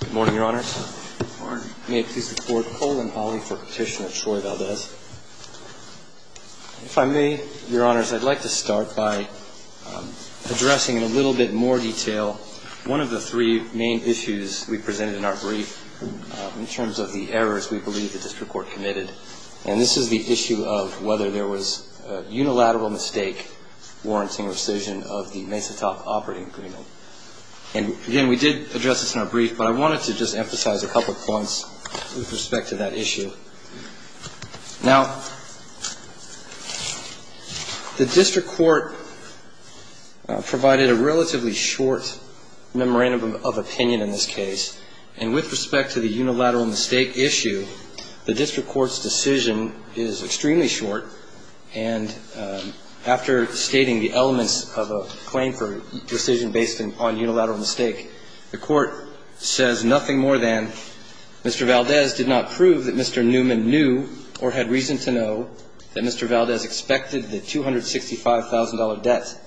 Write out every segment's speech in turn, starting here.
Good morning, Your Honors. May it please the Court, Colin Hawley for Petitioner Troy Valdez. If I may, Your Honors, I'd like to start by addressing in a little bit more detail one of the three main issues we presented in our brief, in terms of the errors we believe the district court committed. And this is the issue of whether there was a unilateral mistake warranting rescission of the Mesa Top operating agreement. And, again, we did address this in our brief, but I wanted to just emphasize a couple of points with respect to that issue. Now, the district court provided a relatively short memorandum of opinion in this case. And with respect to the unilateral mistake issue, the district court's decision is extremely short. And after stating the elements of a claim for rescission based on unilateral mistake, the court says nothing more than, Mr. Valdez did not prove that Mr. Neuman knew or had reason to know that Mr. Valdez expected the $265,000 debt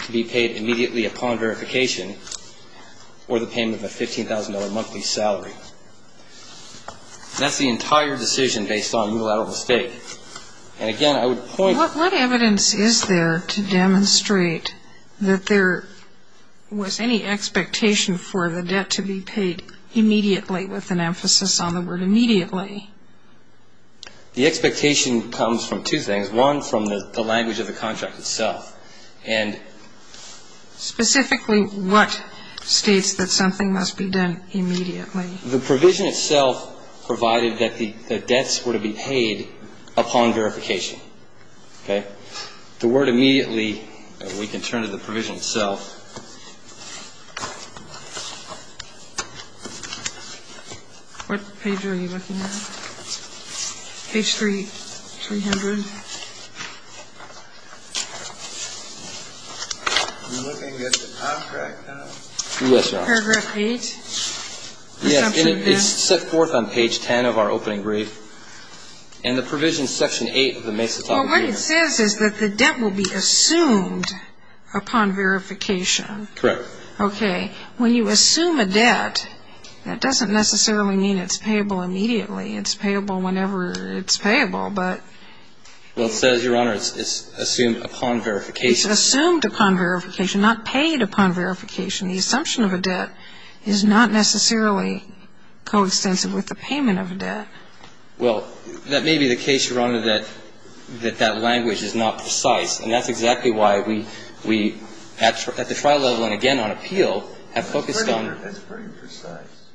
to be paid immediately upon verification or the payment of a $15,000 monthly salary. That's the entire decision based on unilateral mistake. And, again, I would point to the fact that the district court did not prove that Mr. Neuman knew or had reason to know that Mr. Valdez expected the $265,000 debt to be paid immediately. And, again, I would point to the fact that the district court did not prove that Mr. Neuman knew or had reason to know that Mr. Valdez expected the $255,000 debt to be paid immediately. What evidence is there to demonstrate that there was any expectation for the debt to be paid immediately with an emphasis on the word immediately? The expectation comes from two things. One, from the language of the contract itself. And specifically what states that something must be done immediately? The provision itself provided that the debts were to be paid upon verification. Okay? The word immediately, we can turn to the provision itself. What page are you looking at? Page 300. You're looking at the contract, huh? Yes, Your Honor. The paragraph 8? Yes. It's set forth on page 10 of our opening brief. And the provision is section 8 of the Mesa Copyright Act. Well, what it says is that the debt will be assumed upon verification. Correct. Okay. When you assume a debt, that doesn't necessarily mean it's payable immediately. It's payable whenever it's payable, but... Well, it says, Your Honor, it's assumed upon verification. It's assumed upon verification, not paid upon verification. The assumption of a debt is not necessarily coextensive with the payment of a debt. Well, that may be the case, Your Honor, that that language is not precise. And that's exactly why we, at the trial level and again on appeal, have focused on... It's pretty precise.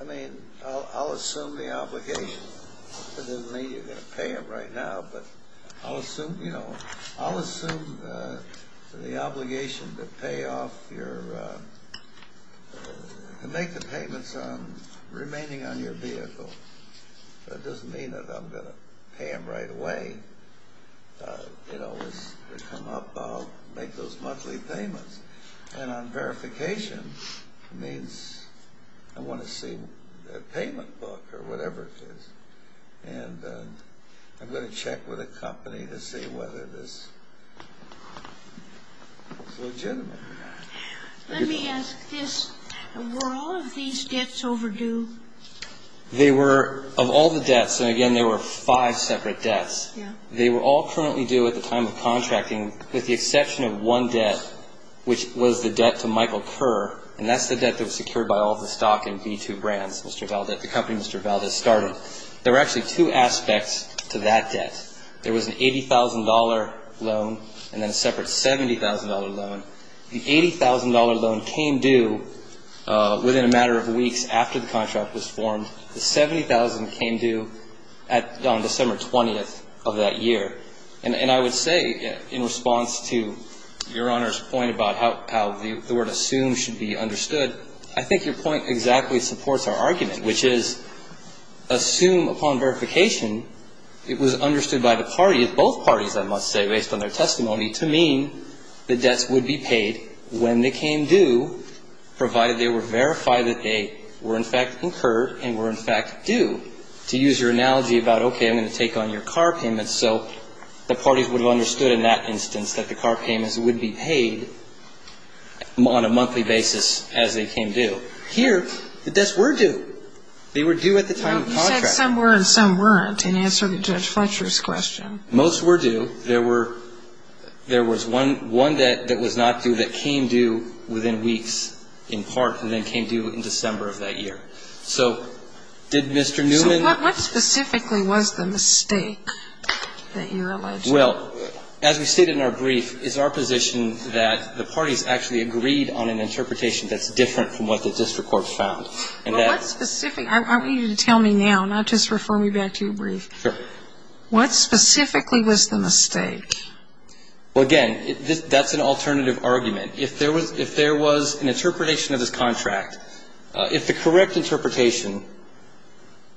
I mean, I'll assume the obligation. It doesn't mean you're going to pay them right now, but I'll assume, you know, I'll assume the obligation to pay off your... to make the payments remaining on your vehicle. That doesn't mean that I'm going to pay them right away. You know, as they come up, I'll make those monthly payments. And on verification, it means I want to see the payment book or whatever it is. And I'm going to check with the company to see whether this is legitimate or not. Let me ask this. Were all of these debts overdue? They were, of all the debts, and again, there were five separate debts. They were all currently due at the time of contracting with the exception of one debt, which was the debt to Michael Kerr, and that's the debt that was secured by all the stock in B2 Brands, Mr. Valdez, the company Mr. Valdez started. There were actually two aspects to that debt. There was an $80,000 loan and then a separate $70,000 loan. The $80,000 loan came due within a matter of weeks after the contract was formed. The $70,000 came due on December 20th of that year. And I would say, in response to Your Honor's point about how the word assume should be understood, I think your point exactly supports our argument, which is assume upon verification it was understood by the parties, both parties, I must say, based on their testimony, to mean the debts would be paid when they came due, provided they were verified that they were in fact incurred and were in fact due. To use your analogy about, okay, I'm going to take on your car payments, so the parties would have understood in that instance that the car payments would be paid on a monthly basis as they came due. Here, the debts were due. They were due at the time of the contract. Well, you said some were and some weren't, in answer to Judge Fletcher's question. Most were due. There was one debt that was not due that came due within weeks, in part, and then came due in December of that year. So did Mr. Newman So what specifically was the mistake that you allege? Well, as we stated in our brief, it's our position that the parties actually agreed on an interpretation that's different from what the district court found. And that's I want you to tell me now, not just refer me back to your brief. Sure. What specifically was the mistake? Well, again, that's an alternative argument. If there was an interpretation of this contract, if the correct interpretation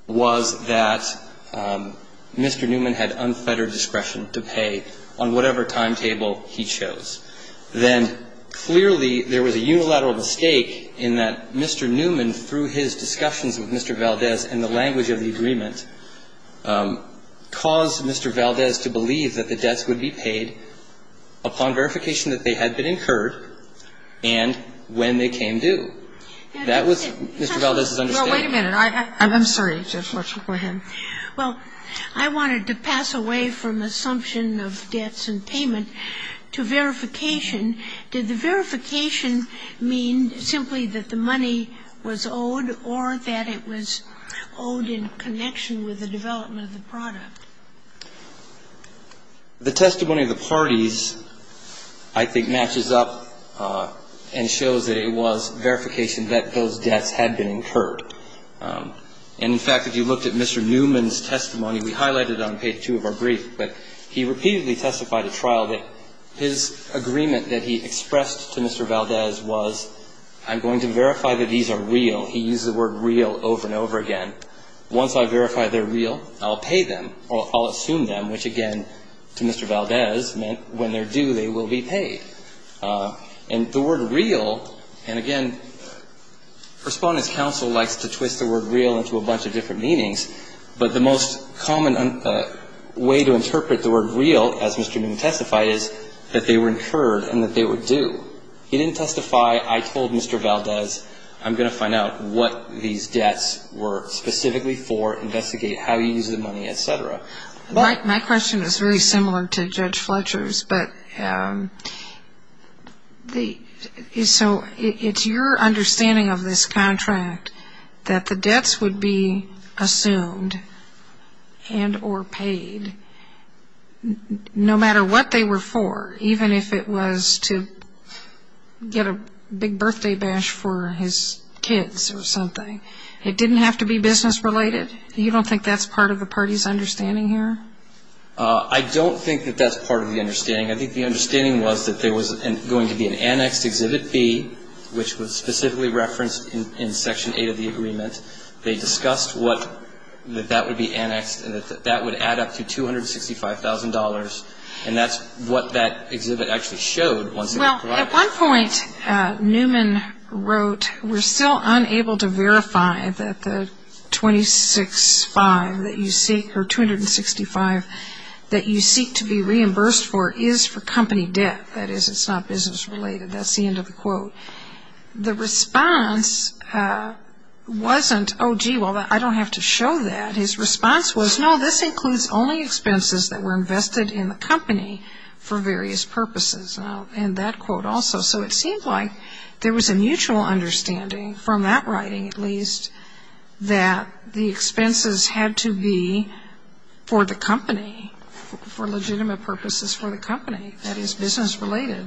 was that Mr. Newman had unfettered discretion to pay on whatever timetable he chose, then clearly there was a unilateral mistake in that Mr. Newman, through his discussions with Mr. Valdez and the language of the agreement, caused Mr. Valdez to believe that the debts would be paid upon verification that they had been incurred and when they came due. That was Mr. Valdez's understanding. Well, wait a minute. I'm sorry. Go ahead. Well, I wanted to pass away from assumption of debts and payment to verification. Did the verification mean simply that the money was owed or that it was owed in connection with the development of the product? The testimony of the parties, I think, matches up and shows that it was verification that those debts had been incurred. And, in fact, if you looked at Mr. Newman's testimony, we highlighted it on page 2 of our brief, but he repeatedly testified at trial that his agreement that he expressed to Mr. Valdez was, I'm going to verify that these are real. He used the word real over and over again. Once I verify they're real, I'll pay them or I'll assume them, which, again, to Mr. And the word real, and, again, Respondent's counsel likes to twist the word real into a bunch of different meanings, but the most common way to interpret the word real, as Mr. Newman testified, is that they were incurred and that they were due. He didn't testify, I told Mr. Valdez, I'm going to find out what these debts were specifically for, investigate how he used the money, et cetera. My question is very similar to Judge Fletcher's, but it's your understanding of this contract that the debts would be assumed and or paid no matter what they were for, even if it was to get a big birthday bash for his kids or something. It didn't have to be business related. You don't think that's part of the party's understanding here? I don't think that that's part of the understanding. I think the understanding was that there was going to be an annexed Exhibit B, which was specifically referenced in Section 8 of the agreement. They discussed that that would be annexed and that that would add up to $265,000, Newman wrote, we're still unable to verify that the $265,000 that you seek or $265,000 that you seek to be reimbursed for is for company debt. That is, it's not business related. That's the end of the quote. The response wasn't, oh, gee, well, I don't have to show that. His response was, no, this includes only expenses that were invested in the company for various purposes. And I'll end that quote also. So it seems like there was a mutual understanding, from that writing at least, that the expenses had to be for the company, for legitimate purposes for the company. That is, business related.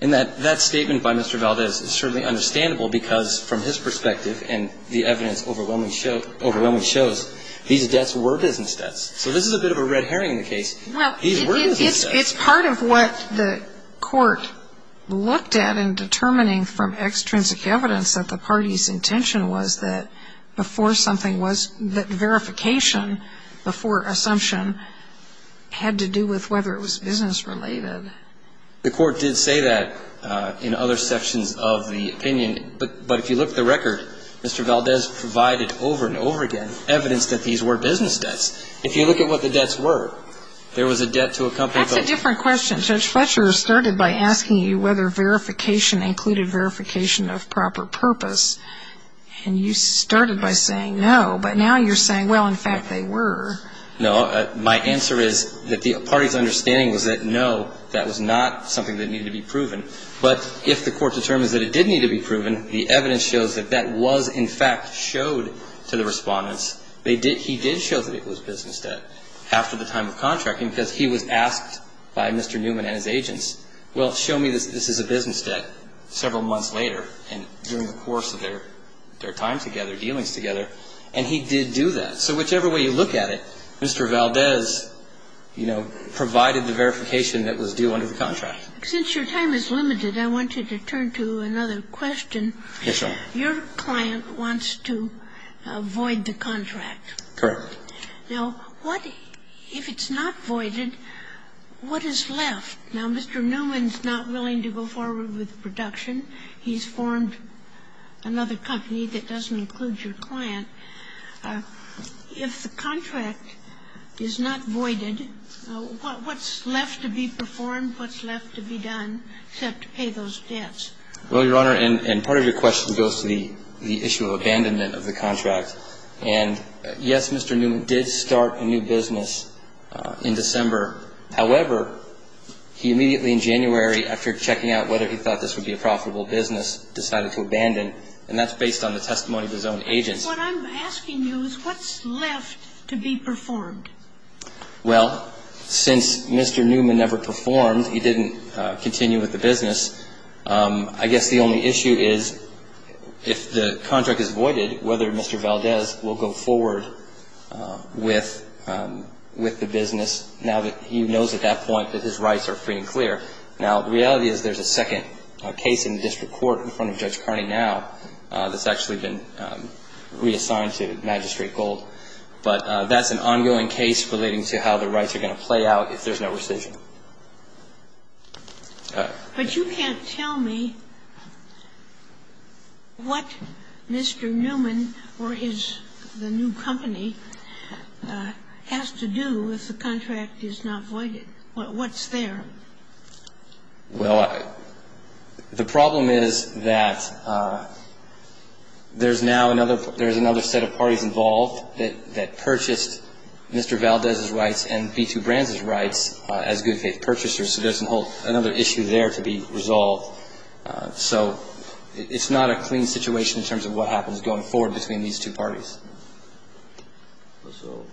And that statement by Mr. Valdez is certainly understandable because, from his perspective and the evidence overwhelmingly shows, these debts were business debts. So this is a bit of a red herring in the case. These were business debts. It's part of what the court looked at in determining from extrinsic evidence that the party's intention was that before something was, that verification before assumption had to do with whether it was business related. The court did say that in other sections of the opinion. But if you look at the record, Mr. Valdez provided over and over again evidence that these were business debts. If you look at what the debts were, there was a debt to a company. That's a different question. Judge Fletcher started by asking you whether verification included verification of proper purpose. And you started by saying no. But now you're saying, well, in fact, they were. No. My answer is that the party's understanding was that no, that was not something that needed to be proven. But if the court determines that it did need to be proven, the evidence shows that that was, in fact, showed to the respondents. He did show that it was business debt after the time of contracting because he was asked by Mr. Newman and his agents, well, show me this is a business debt several months later and during the course of their time together, dealings together. And he did do that. So whichever way you look at it, Mr. Valdez, you know, provided the verification that was due under the contract. Since your time is limited, I want you to turn to another question. Yes, Your Honor. Your client wants to void the contract. Correct. Now, what if it's not voided, what is left? Now, Mr. Newman's not willing to go forward with production. He's formed another company that doesn't include your client. If the contract is not voided, what's left to be performed, what's left to be done except to pay those debts? Well, Your Honor, and part of your question goes to the issue of abandonment of the contract. And, yes, Mr. Newman did start a new business in December. However, he immediately in January, after checking out whether he thought this would be a profitable business, decided to abandon. And that's based on the testimony of his own agents. What I'm asking you is what's left to be performed? Well, since Mr. Newman never performed, he didn't continue with the business, I guess the only issue is if the contract is voided, whether Mr. Valdez will go forward with the business now that he knows at that point that his rights are free and clear. Now, the reality is there's a second case in the district court in front of Judge Carney now that's actually been reassigned to Magistrate Gold. But that's an ongoing case relating to how the rights are going to play out if there's no rescission. But you can't tell me what Mr. Newman or his new company has to do if the contract is not voided. What's there? Well, the problem is that there's now another set of parties involved that purchased Mr. Valdez's rights and B2 Brands' rights as good faith purchasers. So there's another issue there to be resolved. So it's not a clean situation in terms of what happens going forward between these two parties. So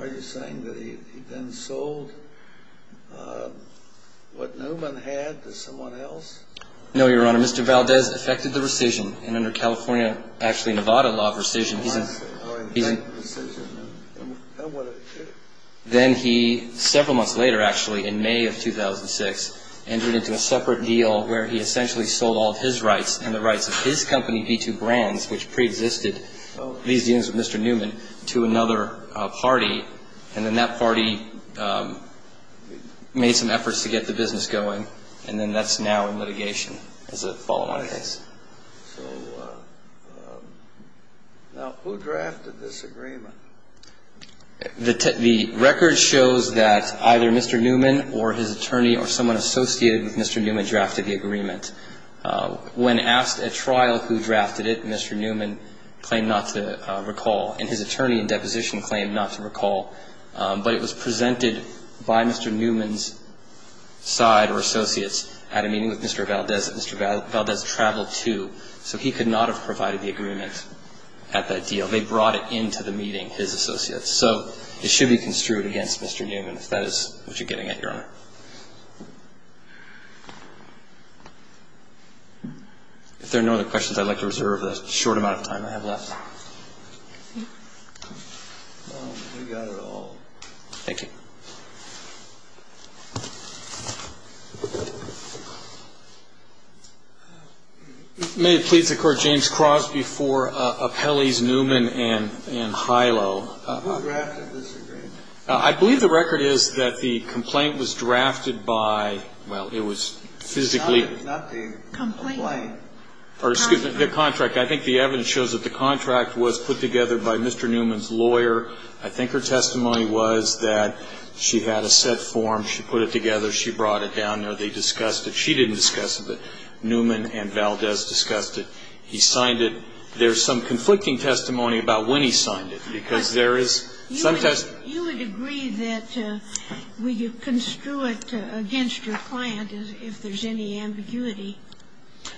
are you saying that he then sold what Newman had to someone else? No, Your Honor. Mr. Valdez affected the rescission. And under California, actually Nevada law of rescission, he's in. Then he, several months later actually, in May of 2006, entered into a separate deal where he essentially sold all of his rights and the rights of his company, B2 Brands, which preexisted these dealings with Mr. Newman, to another party. And then that party made some efforts to get the business going. And then that's now in litigation as a follow-on case. So now who drafted this agreement? The record shows that either Mr. Newman or his attorney or someone associated with Mr. Newman drafted the agreement. When asked at trial who drafted it, Mr. Newman claimed not to recall. And his attorney in deposition claimed not to recall. But it was presented by Mr. Newman's side or associates at a meeting with Mr. Valdez. And Mr. Valdez traveled, too. So he could not have provided the agreement at that deal. They brought it into the meeting, his associates. So it should be construed against Mr. Newman if that is what you're getting at, Your Honor. If there are no other questions, I'd like to reserve the short amount of time I have left. We got it all. Thank you. May it please the Court, James Cross before Appellees Newman and Hylo. Who drafted this agreement? I believe the record is that the complaint was drafted by, well, it was physically Not the complaint. Or excuse me, the contract. I think the evidence shows that the contract was put together by Mr. Newman's I think her testimony was that she had a set form. She put it together. She brought it down. They discussed it. She didn't discuss it. But Newman and Valdez discussed it. He signed it. There's some conflicting testimony about when he signed it, because there is some testimony. You would agree that you would construe it against your client if there's any ambiguity.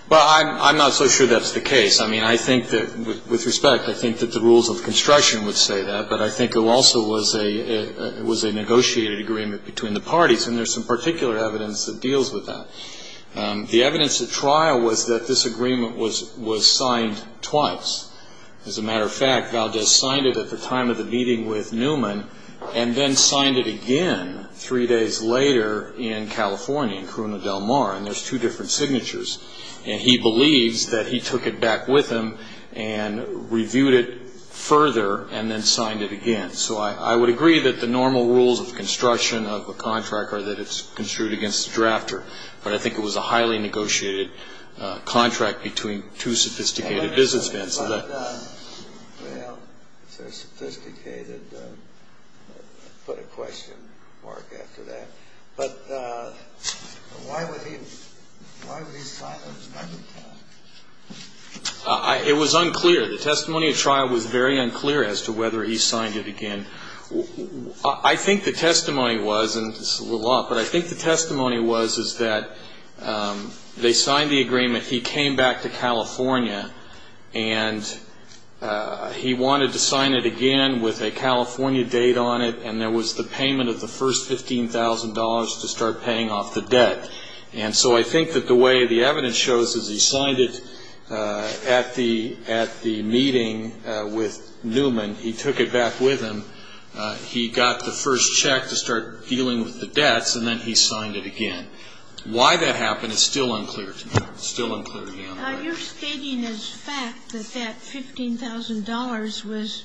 Well, I'm not so sure that's the case. With respect, I think that the rules of construction would say that. But I think it also was a negotiated agreement between the parties. And there's some particular evidence that deals with that. The evidence at trial was that this agreement was signed twice. As a matter of fact, Valdez signed it at the time of the meeting with Newman and then signed it again three days later in California, in Corona del Mar. And there's two different signatures. And he believes that he took it back with him and reviewed it further and then signed it again. So I would agree that the normal rules of construction of a contract are that it's construed against the drafter. But I think it was a highly negotiated contract between two sophisticated businessmen. Well, so sophisticated. Put a question mark after that. But why would he sign a second time? It was unclear. The testimony at trial was very unclear as to whether he signed it again. I think the testimony was, and this is a little off, but I think the testimony was is that they signed the agreement. He came back to California and he wanted to sign it again with a California date on it. And there was the payment of the first $15,000 to start paying off the debt. And so I think that the way the evidence shows is he signed it at the meeting with Newman. He took it back with him. He got the first check to start dealing with the debts. And then he signed it again. Why that happened is still unclear to me. It's still unclear to me. You're stating as fact that that $15,000 was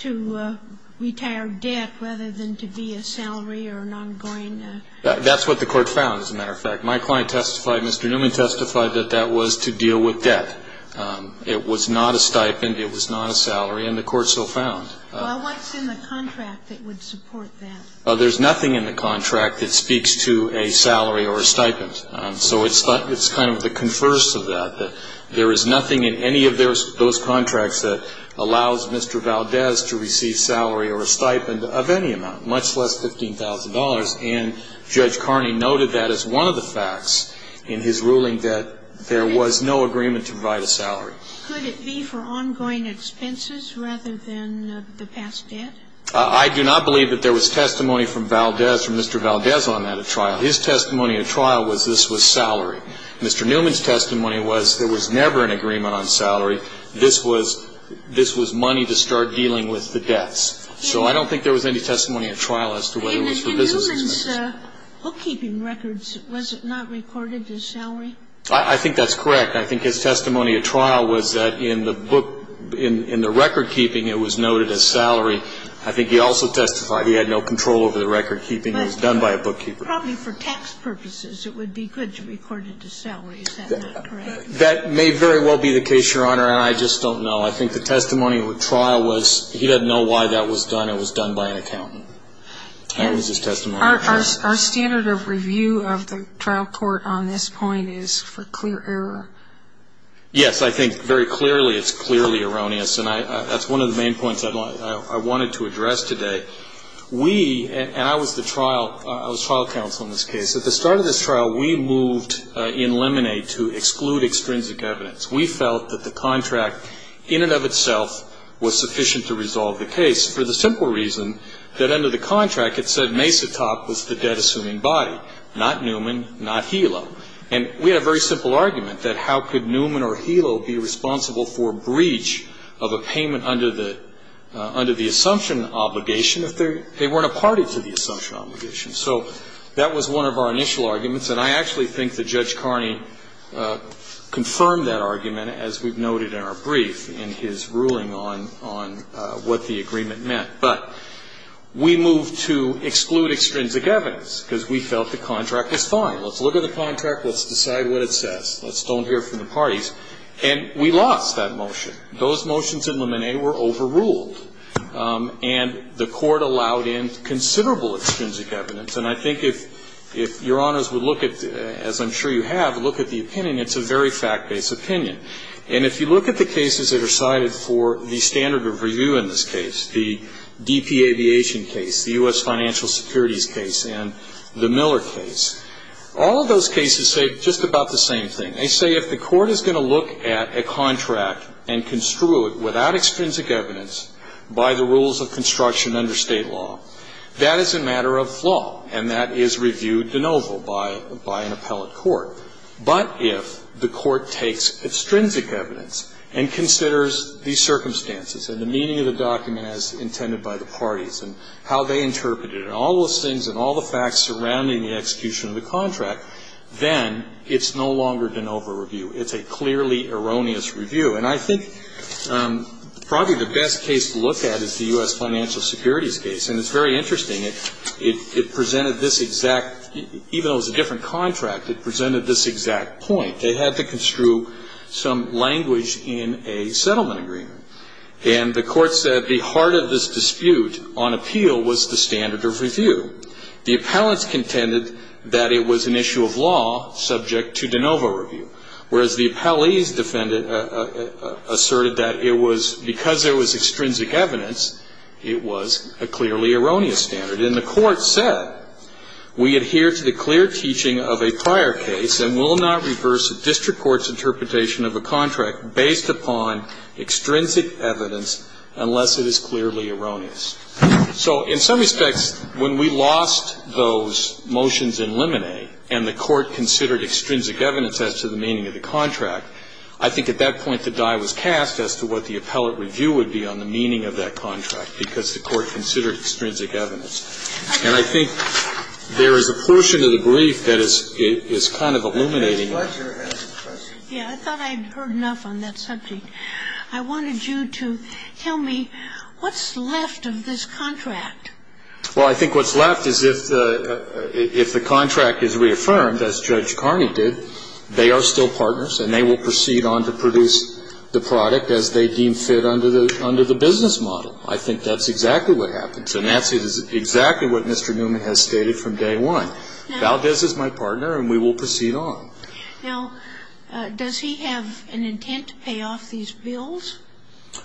to retire debt rather than to be a salary or an ongoing. That's what the court found, as a matter of fact. My client testified, Mr. Newman testified that that was to deal with debt. It was not a stipend. It was not a salary. And the court so found. Well, what's in the contract that would support that? Well, there's nothing in the contract that speaks to a salary or a stipend. So it's kind of the converse of that. There is nothing in any of those contracts that allows Mr. Valdez to receive salary or a stipend of any amount, much less $15,000. And Judge Carney noted that as one of the facts in his ruling that there was no agreement to provide a salary. Could it be for ongoing expenses rather than the past debt? I do not believe that there was testimony from Valdez, from Mr. Valdez on that trial. His testimony at trial was this was salary. Mr. Newman's testimony was there was never an agreement on salary. This was money to start dealing with the debts. So I don't think there was any testimony at trial as to whether it was for business expenses. In Newman's bookkeeping records, was it not recorded as salary? I think that's correct. I think his testimony at trial was that in the book, in the recordkeeping, it was noted as salary. I think he also testified he had no control over the recordkeeping. It was done by a bookkeeper. Probably for tax purposes, it would be good to record it as salary. Is that not correct? That may very well be the case, Your Honor, and I just don't know. I think the testimony at trial was he didn't know why that was done. It was done by an accountant. That was his testimony. Our standard of review of the trial court on this point is for clear error. Yes. I think very clearly it's clearly erroneous. And that's one of the main points I wanted to address today. We, and I was the trial, I was trial counsel in this case. At the start of this trial, we moved in Lemonade to exclude extrinsic evidence. We felt that the contract in and of itself was sufficient to resolve the case for the simple reason that under the contract, it said Mesa Top was the debt-assuming body, not Newman, not Helo. And we had a very simple argument that how could Newman or Helo be responsible for a breach of a payment under the assumption obligation if they weren't a party to the assumption obligation? So that was one of our initial arguments, and I actually think that Judge Carney confirmed that argument, as we've noted in our brief, in his ruling on what the agreement meant. But we moved to exclude extrinsic evidence because we felt the contract was fine. Let's look at the contract. Let's decide what it says. Let's don't hear from the parties. And we lost that motion. Those motions in Lemonade were overruled, and the Court allowed in considerable extrinsic evidence. And I think if Your Honors would look at, as I'm sure you have, look at the opinion, it's a very fact-based opinion. And if you look at the cases that are cited for the standard of review in this case, the DP Aviation case, the U.S. Financial Securities case, and the Miller case, all of those cases say just about the same thing. They say if the Court is going to look at a contract and construe it without extrinsic evidence by the rules of construction under State law, that is a matter of flaw, and that is review de novo by an appellate court. But if the Court takes extrinsic evidence and considers these circumstances and the meaning of the document as intended by the parties and how they interpret it and all those things and all the facts surrounding the execution of the contract, then it's no longer de novo review. It's a clearly erroneous review. And I think probably the best case to look at is the U.S. Financial Securities case. And it's very interesting. It presented this exact, even though it was a different contract, it presented this exact point. They had to construe some language in a settlement agreement. And the Court said the heart of this dispute on appeal was the standard of review. The appellants contended that it was an issue of law subject to de novo review, whereas the appellee's defendant asserted that it was because there was extrinsic evidence, it was a clearly erroneous standard. And the Court said we adhere to the clear teaching of a prior case and will not reverse a district court's interpretation of a contract based upon extrinsic evidence unless it is clearly erroneous. So in some respects, when we lost those motions in limine and the Court considered extrinsic evidence as to the meaning of the contract, I think at that point the die was cast as to what the appellate review would be on the meaning of that contract because the Court considered extrinsic evidence. And I think there is a portion of the brief that is kind of illuminating. Scalia. I think I have a question. I think Judge Karni has a question. I'm not sure whether Judge Karni has a question. I thought I'd heard enough on that subject. I wanted you to tell me what's left of this contract? Well, I think what's left is if the contract is reaffirmed, as Judge Karni did, they are still partners and they will proceed on to produce the product as they will proceed on. Now, does he have an intent to pay off these bills?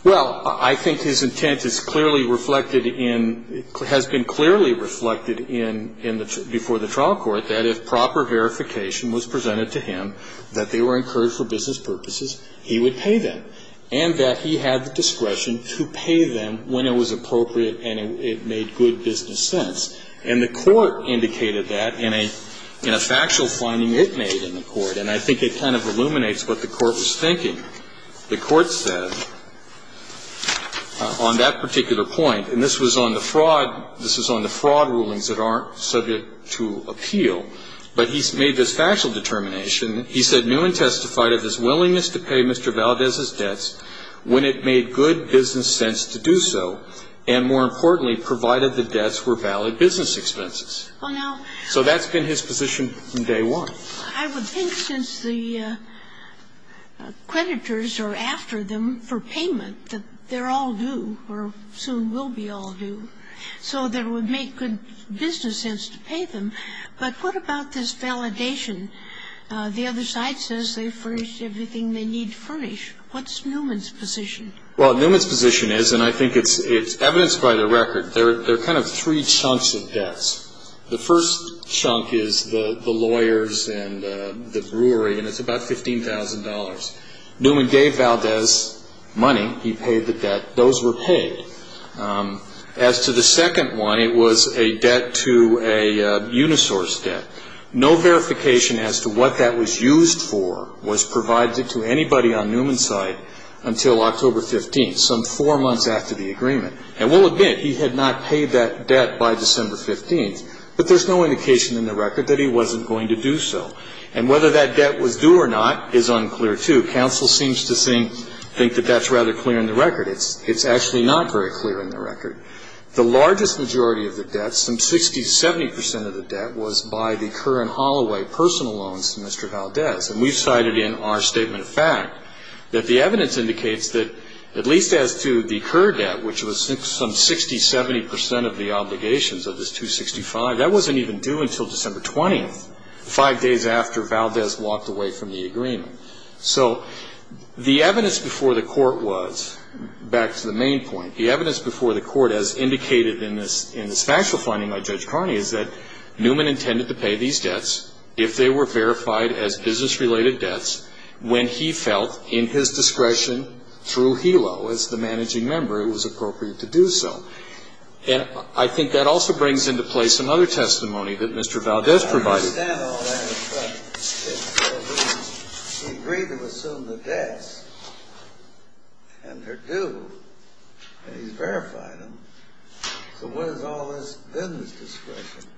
Well, I think his intent is clearly reflected in, has been clearly reflected before the trial court that if proper verification was presented to him that they were incurred for business purposes, he would pay them, and that he had the discretion to pay them when it was appropriate and it made good business sense. And the court indicated that in a factual finding it made in the court, and I think it kind of illuminates what the court was thinking. The court said on that particular point, and this was on the fraud, this was on the fraud rulings that aren't subject to appeal, but he made this factual determination. He said Newman testified of his willingness to pay Mr. Valdez's debts when it made good business sense to do so, and more importantly, provided the debts were valid business expenses. So that's been his position from day one. I would think since the creditors are after them for payment that they're all due or soon will be all due, so that would make good business sense to pay them. But what about this validation? The other side says they furnished everything they need furnished. What's Newman's position? Well, Newman's position is, and I think it's evidenced by the record, there are kind of three chunks of debts. The first chunk is the lawyers and the brewery, and it's about $15,000. Newman gave Valdez money. He paid the debt. Those were paid. As to the second one, it was a debt to a unisource debt. And we'll admit, he had not paid that debt by December 15th. But there's no indication in the record that he wasn't going to do so. And whether that debt was due or not is unclear, too. Counsel seems to think that that's rather clear in the record. It's actually not very clear in the record. The largest majority of the debt, some 60, 70 percent of the debt, was by the Kerr and Holloway personal loans to Mr. Valdez. And we've cited in our statement of fact that the evidence indicates that, at least as to the Kerr debt, which was some 60, 70 percent of the obligations of this 265, that wasn't even due until December 20th, five days after Valdez walked away from the agreement. So the evidence before the court was, back to the main point, the evidence before the court as indicated in this factual finding by Judge Carney is that Newman intended to pay these debts if they were verified as business-related debts when he felt in his discretion through Helo, as the managing member, it was appropriate to do so. And I think that also brings into play some other testimony that Mr. Valdez provided. I don't understand all that. But he agreed to assume the debts, and they're due, and he's verified them. So what is all this business discretion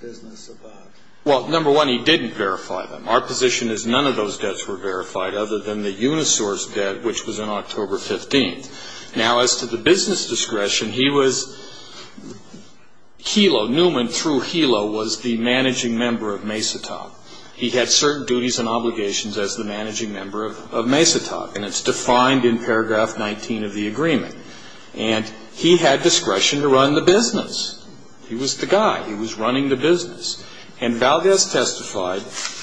business about? Well, number one, he didn't verify them. Our position is none of those debts were verified other than the Unisource debt, which was on October 15th. Now, as to the business discretion, he was Helo. Newman, through Helo, was the managing member of MESATOC. He had certain duties and obligations as the managing member of MESATOC, and it's defined in paragraph 19 of the agreement. And he had discretion to run the business. He was the guy. He was running the business. And Valdez testified,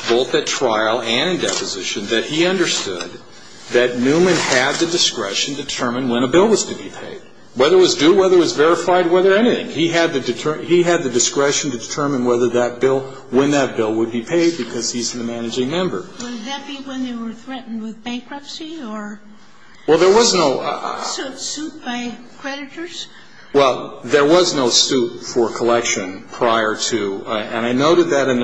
both at trial and in deposition, that he understood that Newman had the discretion to determine when a bill was to be paid, whether it was due, whether it was verified, whether anything. He had the discretion to determine whether that bill, when that bill would be paid because he's the managing member. Would that be when they were threatened with bankruptcy? Well, there was no ‑‑ Suit by creditors? Well, there was no suit for collection prior to ‑‑ and I noted that in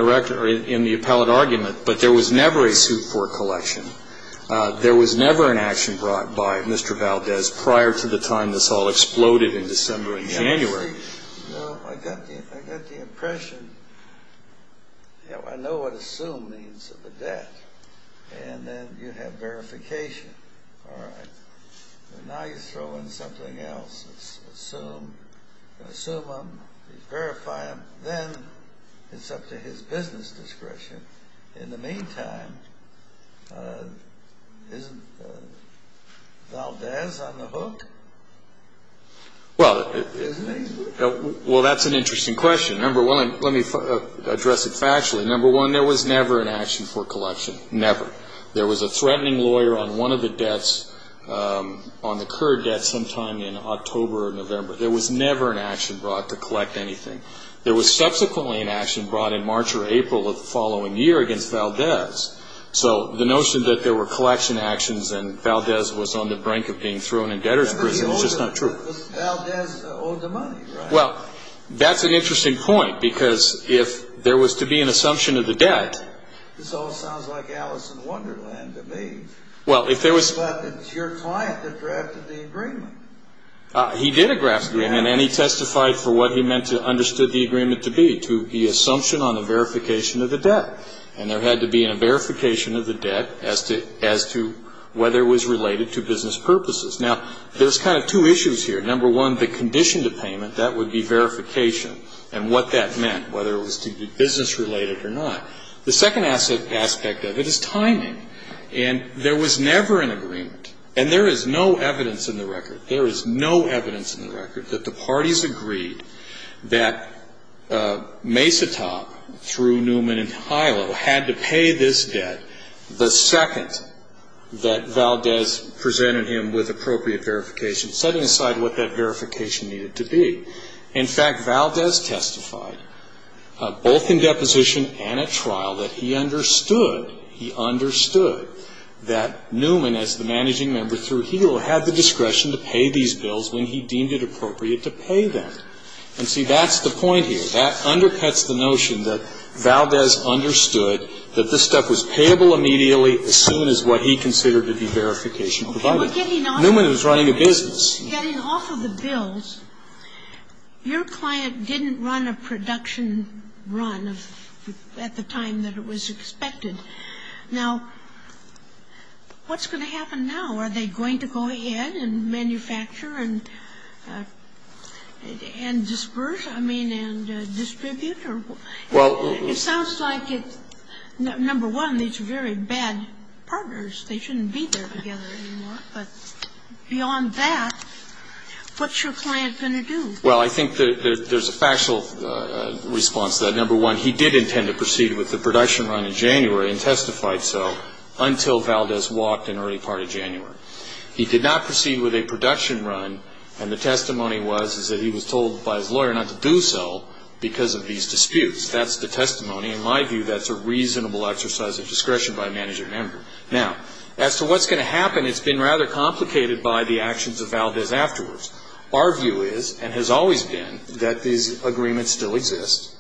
the appellate argument, but there was never a suit for collection. There was never an action brought by Mr. Valdez prior to the time this all exploded in December and January. I got the impression, you know, I know what assumed means of the debt. And then you have verification. All right. Now you throw in something else. Assume. Assume him. Verify him. Then it's up to his business discretion. In the meantime, isn't Valdez on the hook? Well, that's an interesting question. Number one, let me address it factually. Number one, there was never an action for collection. Never. There was a threatening lawyer on one of the debts, on the current debt sometime in October or November. There was never an action brought to collect anything. There was subsequently an action brought in March or April of the following year against Valdez. So the notion that there were collection actions and Valdez was on the brink of being thrown in debtor's prison is just not true. But Valdez owed the money, right? Well, that's an interesting point because if there was to be an assumption of the debt. This all sounds like Alice in Wonderland to me. Well, if there was... But it's your client that drafted the agreement. He did a draft agreement and he testified for what he meant to understood the agreement to be, to the assumption on the verification of the debt. And there had to be a verification of the debt as to whether it was related to business purposes. Now, there's kind of two issues here. Number one, the condition to payment, that would be verification and what that meant, whether it was to be business-related or not. The second aspect of it is timing. And there was never an agreement, and there is no evidence in the record, there is no evidence in the record that the parties agreed that Mesotop, through Newman and Hilo, had to pay this debt the second that Valdez presented him with appropriate verification, setting aside what that verification needed to be. In fact, Valdez testified, both in deposition and at trial, that he understood, he understood that Newman, as the managing member through Hilo, had the discretion to pay these bills when he deemed it appropriate to pay them. And see, that's the point here. That undercuts the notion that Valdez understood that this stuff was payable immediately as soon as what he considered to be verification provided. But getting off of it, getting off of the bills, your client didn't run a production run at the time that it was expected. Now, what's going to happen now? Are they going to go ahead and manufacture and disperse, I mean, and distribute? It sounds like, number one, these are very bad partners. They shouldn't be there together anymore. But beyond that, what's your client going to do? Well, I think there's a factual response to that. Number one, he did intend to proceed with the production run in January and testified so until Valdez walked in the early part of January. He did not proceed with a production run, and the testimony was, is that he was told by his lawyer not to do so because of these disputes. That's the testimony. In my view, that's a reasonable exercise of discretion by a managing member. Now, as to what's going to happen, it's been rather complicated by the actions of Valdez afterwards. Our view is and has always been that these agreements still exist,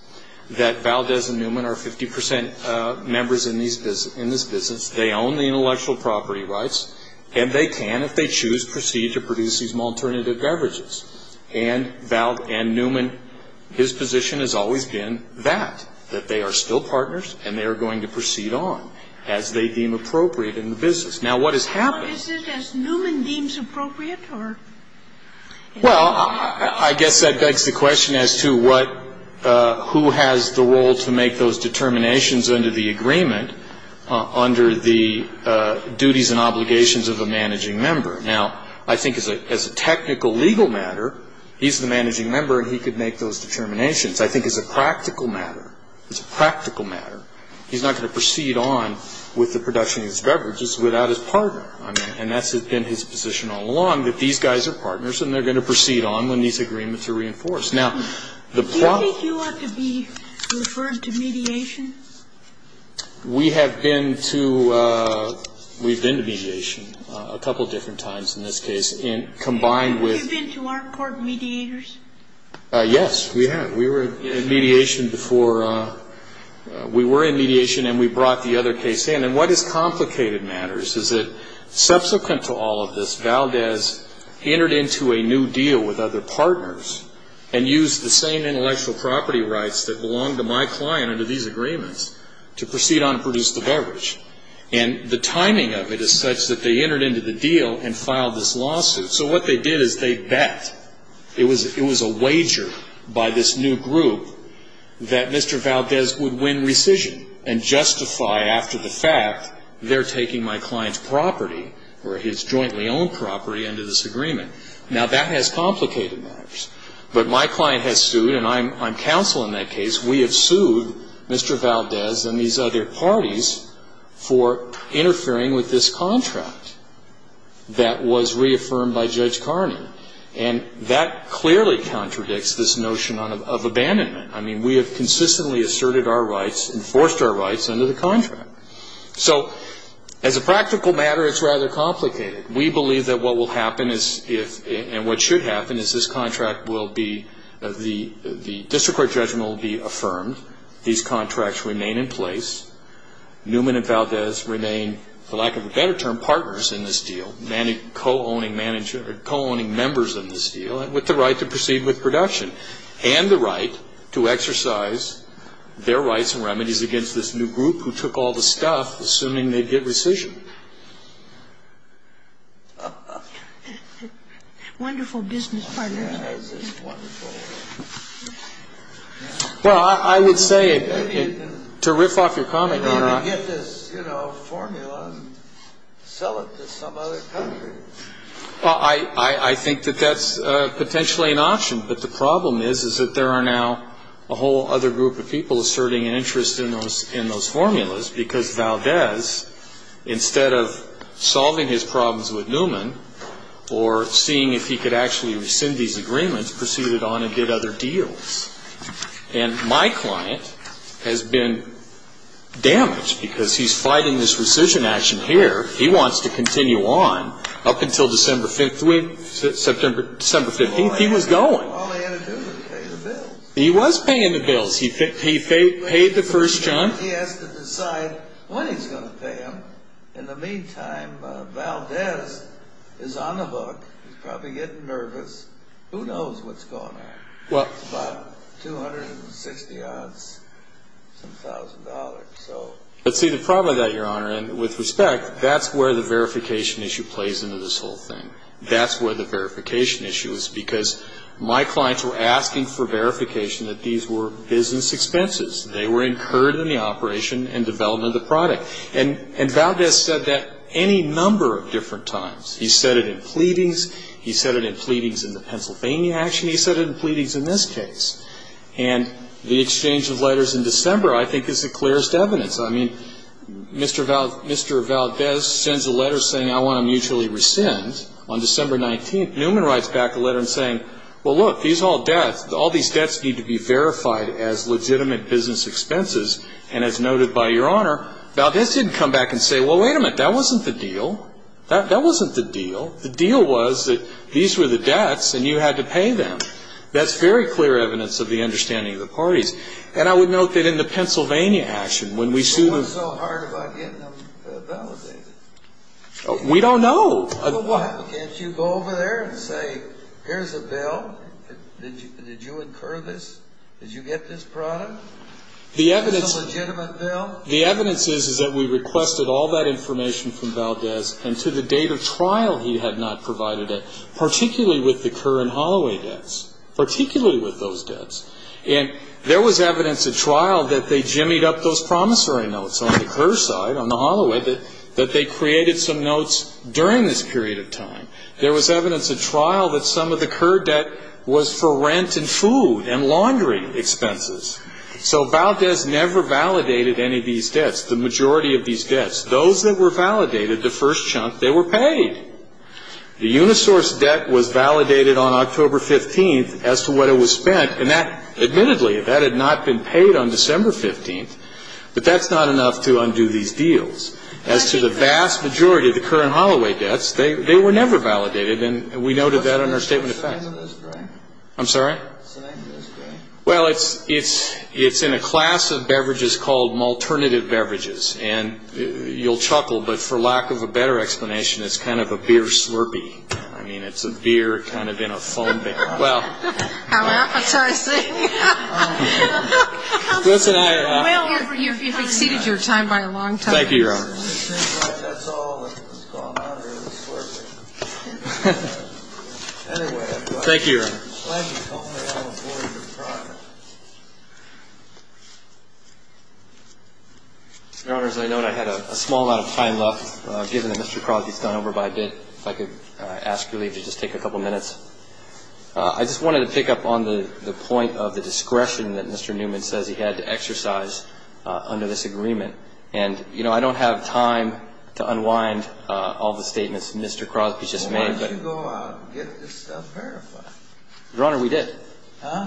that Valdez and Newman are 50 percent members in this business, they own the intellectual property rights, and they can, if they choose, proceed to produce these alternative beverages. And Newman, his position has always been that, that they are still partners and they are going to proceed on as they deem appropriate in the business. Now, what has happened? Is it as Newman deems appropriate or? Well, I guess that begs the question as to what, who has the role to make those determinations under the agreement, under the duties and obligations of a managing member. Now, I think as a technical legal matter, he's the managing member and he could make those determinations. I think as a practical matter, it's a practical matter, he's not going to proceed on with the production of these beverages without his partner. And that's been his position all along, that these guys are partners and they're going to proceed on when these agreements are reinforced. Now, the problem of the. Do you think you ought to be referred to mediation? We have been to, we've been to mediation a couple of different times in this case, and combined with. Have you been to our court mediators? Yes, we have. We were in mediation before, we were in mediation and we brought the other case in. And what is complicated matters is that subsequent to all of this, Valdez entered into a new deal with other partners and used the same intellectual property rights that belonged to my client under these agreements to proceed on and produce the beverage. And the timing of it is such that they entered into the deal and filed this lawsuit. So what they did is they bet, it was a wager by this new group, that Mr. Valdez would win rescission and justify after the fact they're taking my client's property or his jointly owned property under this agreement. Now, that has complicated matters. But my client has sued, and I'm counsel in that case, we have sued Mr. Valdez and these other parties for interfering with this contract that was reaffirmed by Judge Carney. And that clearly contradicts this notion of abandonment. I mean, we have consistently asserted our rights, enforced our rights under the contract. So as a practical matter, it's rather complicated. We believe that what will happen is if, and what should happen is this contract will be, the district court judgment will be affirmed, these contracts remain in place, Newman and Valdez remain, for lack of a better term, partners in this deal, co-owning members in this deal, and with the right to proceed with production and the right to exercise their rights and remedies against this new group who took all the stuff, assuming they'd get rescission. Wonderful business partner. Well, I would say, to riff off your comment, Your Honor, I think that that's potentially an option. But the problem is, is that there are now a whole other group of people asserting an interest in those formulas because Valdez, instead of solving his problems with Newman or seeing if he could actually rescind these agreements, proceeded on and did other deals. And my client has been damaged because he's fighting this rescission action here. He wants to continue on up until December 15th. He was going. He was paying the bills. He paid the first chunk. He has to decide when he's going to pay them. In the meantime, Valdez is on the book. He's probably getting nervous. Who knows what's going on? It's about 260-odd some thousand dollars. But see, the problem with that, Your Honor, and with respect, that's where the verification issue plays into this whole thing. That's where the verification issue is because my clients were asking for verification that these were business expenses. They were incurred in the operation and development of the product. And Valdez said that any number of different times. He said it in pleadings. He said it in pleadings in the Pennsylvania action. He said it in pleadings in this case. And the exchange of letters in December, I think, is the clearest evidence. I mean, Mr. Valdez sends a letter saying, I want to mutually rescind on December 19th. Newman writes back a letter saying, well, look, these all debts, all these debts need to be verified as legitimate business expenses. And as noted by Your Honor, Valdez didn't come back and say, well, wait a minute, that wasn't the deal. That wasn't the deal. The deal was that these were the debts and you had to pay them. That's very clear evidence of the understanding of the parties. And I would note that in the Pennsylvania action, when we sued them. What's so hard about getting them validated? We don't know. Can't you go over there and say, here's a bill, did you incur this, did you get this product, it's a legitimate bill? What the evidence is, is that we requested all that information from Valdez and to the date of trial he had not provided it, particularly with the Kerr and Holloway debts, particularly with those debts. And there was evidence at trial that they jimmied up those promissory notes on the Kerr side, on the Holloway, that they created some notes during this period of time. There was evidence at trial that some of the Kerr debt was for rent and food and laundry expenses. So Valdez never validated any of these debts, the majority of these debts. Those that were validated, the first chunk, they were paid. The Unisource debt was validated on October 15th as to what it was spent. And that, admittedly, that had not been paid on December 15th. But that's not enough to undo these deals. As to the vast majority of the Kerr and Holloway debts, they were never validated. And we noted that in our statement of facts. I'm sorry? Well, it's in a class of beverages called alternative beverages. And you'll chuckle, but for lack of a better explanation, it's kind of a beer slurpee. I mean, it's a beer kind of in a foam bag. Well. How appetizing. Well, you've exceeded your time by a long time. Thank you, Your Honor. That's all that's gone on here, the slurpee. Anyway. Thank you, Your Honor. I'm glad you told me that on the board of your project. Your Honor, as I noted, I had a small amount of time left, given that Mr. Crosby has gone over by a bit. If I could ask your leave to just take a couple minutes. I just wanted to pick up on the point of the discretion that Mr. Newman says he had to exercise under this agreement. And, you know, I don't have time to unwind all the statements Mr. Crosby just made. I'm going to go out and get this stuff verified. Your Honor, we did.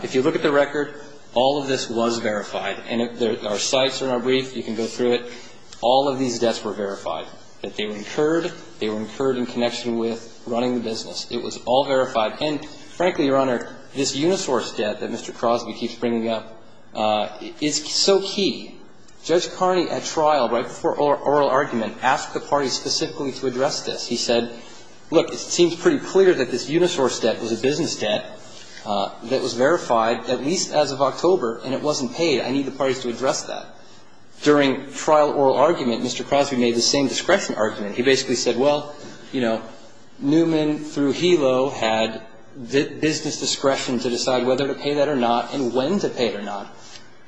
If you look at the record, all of this was verified. And our sites are in our brief. You can go through it. All of these debts were verified, that they were incurred. They were incurred in connection with running the business. It was all verified. And, frankly, Your Honor, this unisource debt that Mr. Crosby keeps bringing up is so key. Judge Carney, at trial, right before oral argument, asked the party specifically to address this. He said, look, it seems pretty clear that this unisource debt was a business debt that was verified at least as of October, and it wasn't paid. I need the parties to address that. During trial oral argument, Mr. Crosby made the same discretion argument. He basically said, well, you know, Newman through Helo had business discretion to decide whether to pay that or not and when to pay it or not.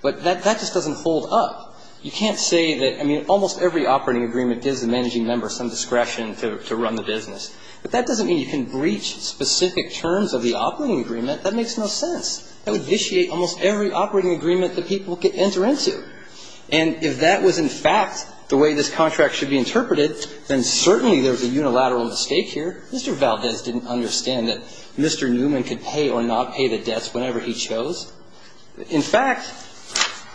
But that just doesn't hold up. You can't say that, I mean, almost every operating agreement gives the managing member some discretion to run the business. But that doesn't mean you can breach specific terms of the operating agreement. That makes no sense. That would vitiate almost every operating agreement that people could enter into. And if that was in fact the way this contract should be interpreted, then certainly there was a unilateral mistake here. Mr. Valdez didn't understand that Mr. Newman could pay or not pay the debts whenever he chose. In fact,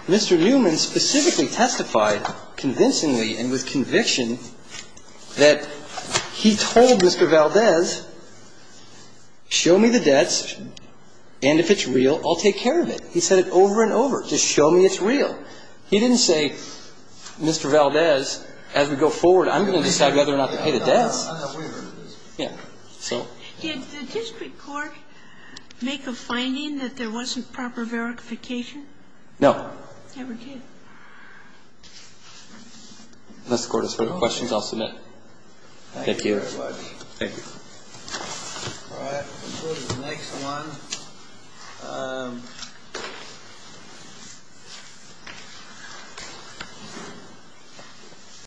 Mr. Newman specifically testified convincingly and with conviction that he told Mr. Valdez, show me the debts, and if it's real, I'll take care of it. He said it over and over. Just show me it's real. He didn't say, Mr. Valdez, as we go forward, I'm going to decide whether or not to pay the debts. I'm not wavering on this. Yeah. Did the district court make a finding that there wasn't proper verification? No. Never did. Unless the Court has further questions, I'll submit. Thank you. Thank you very much. Thank you. All right. We'll go to the next one.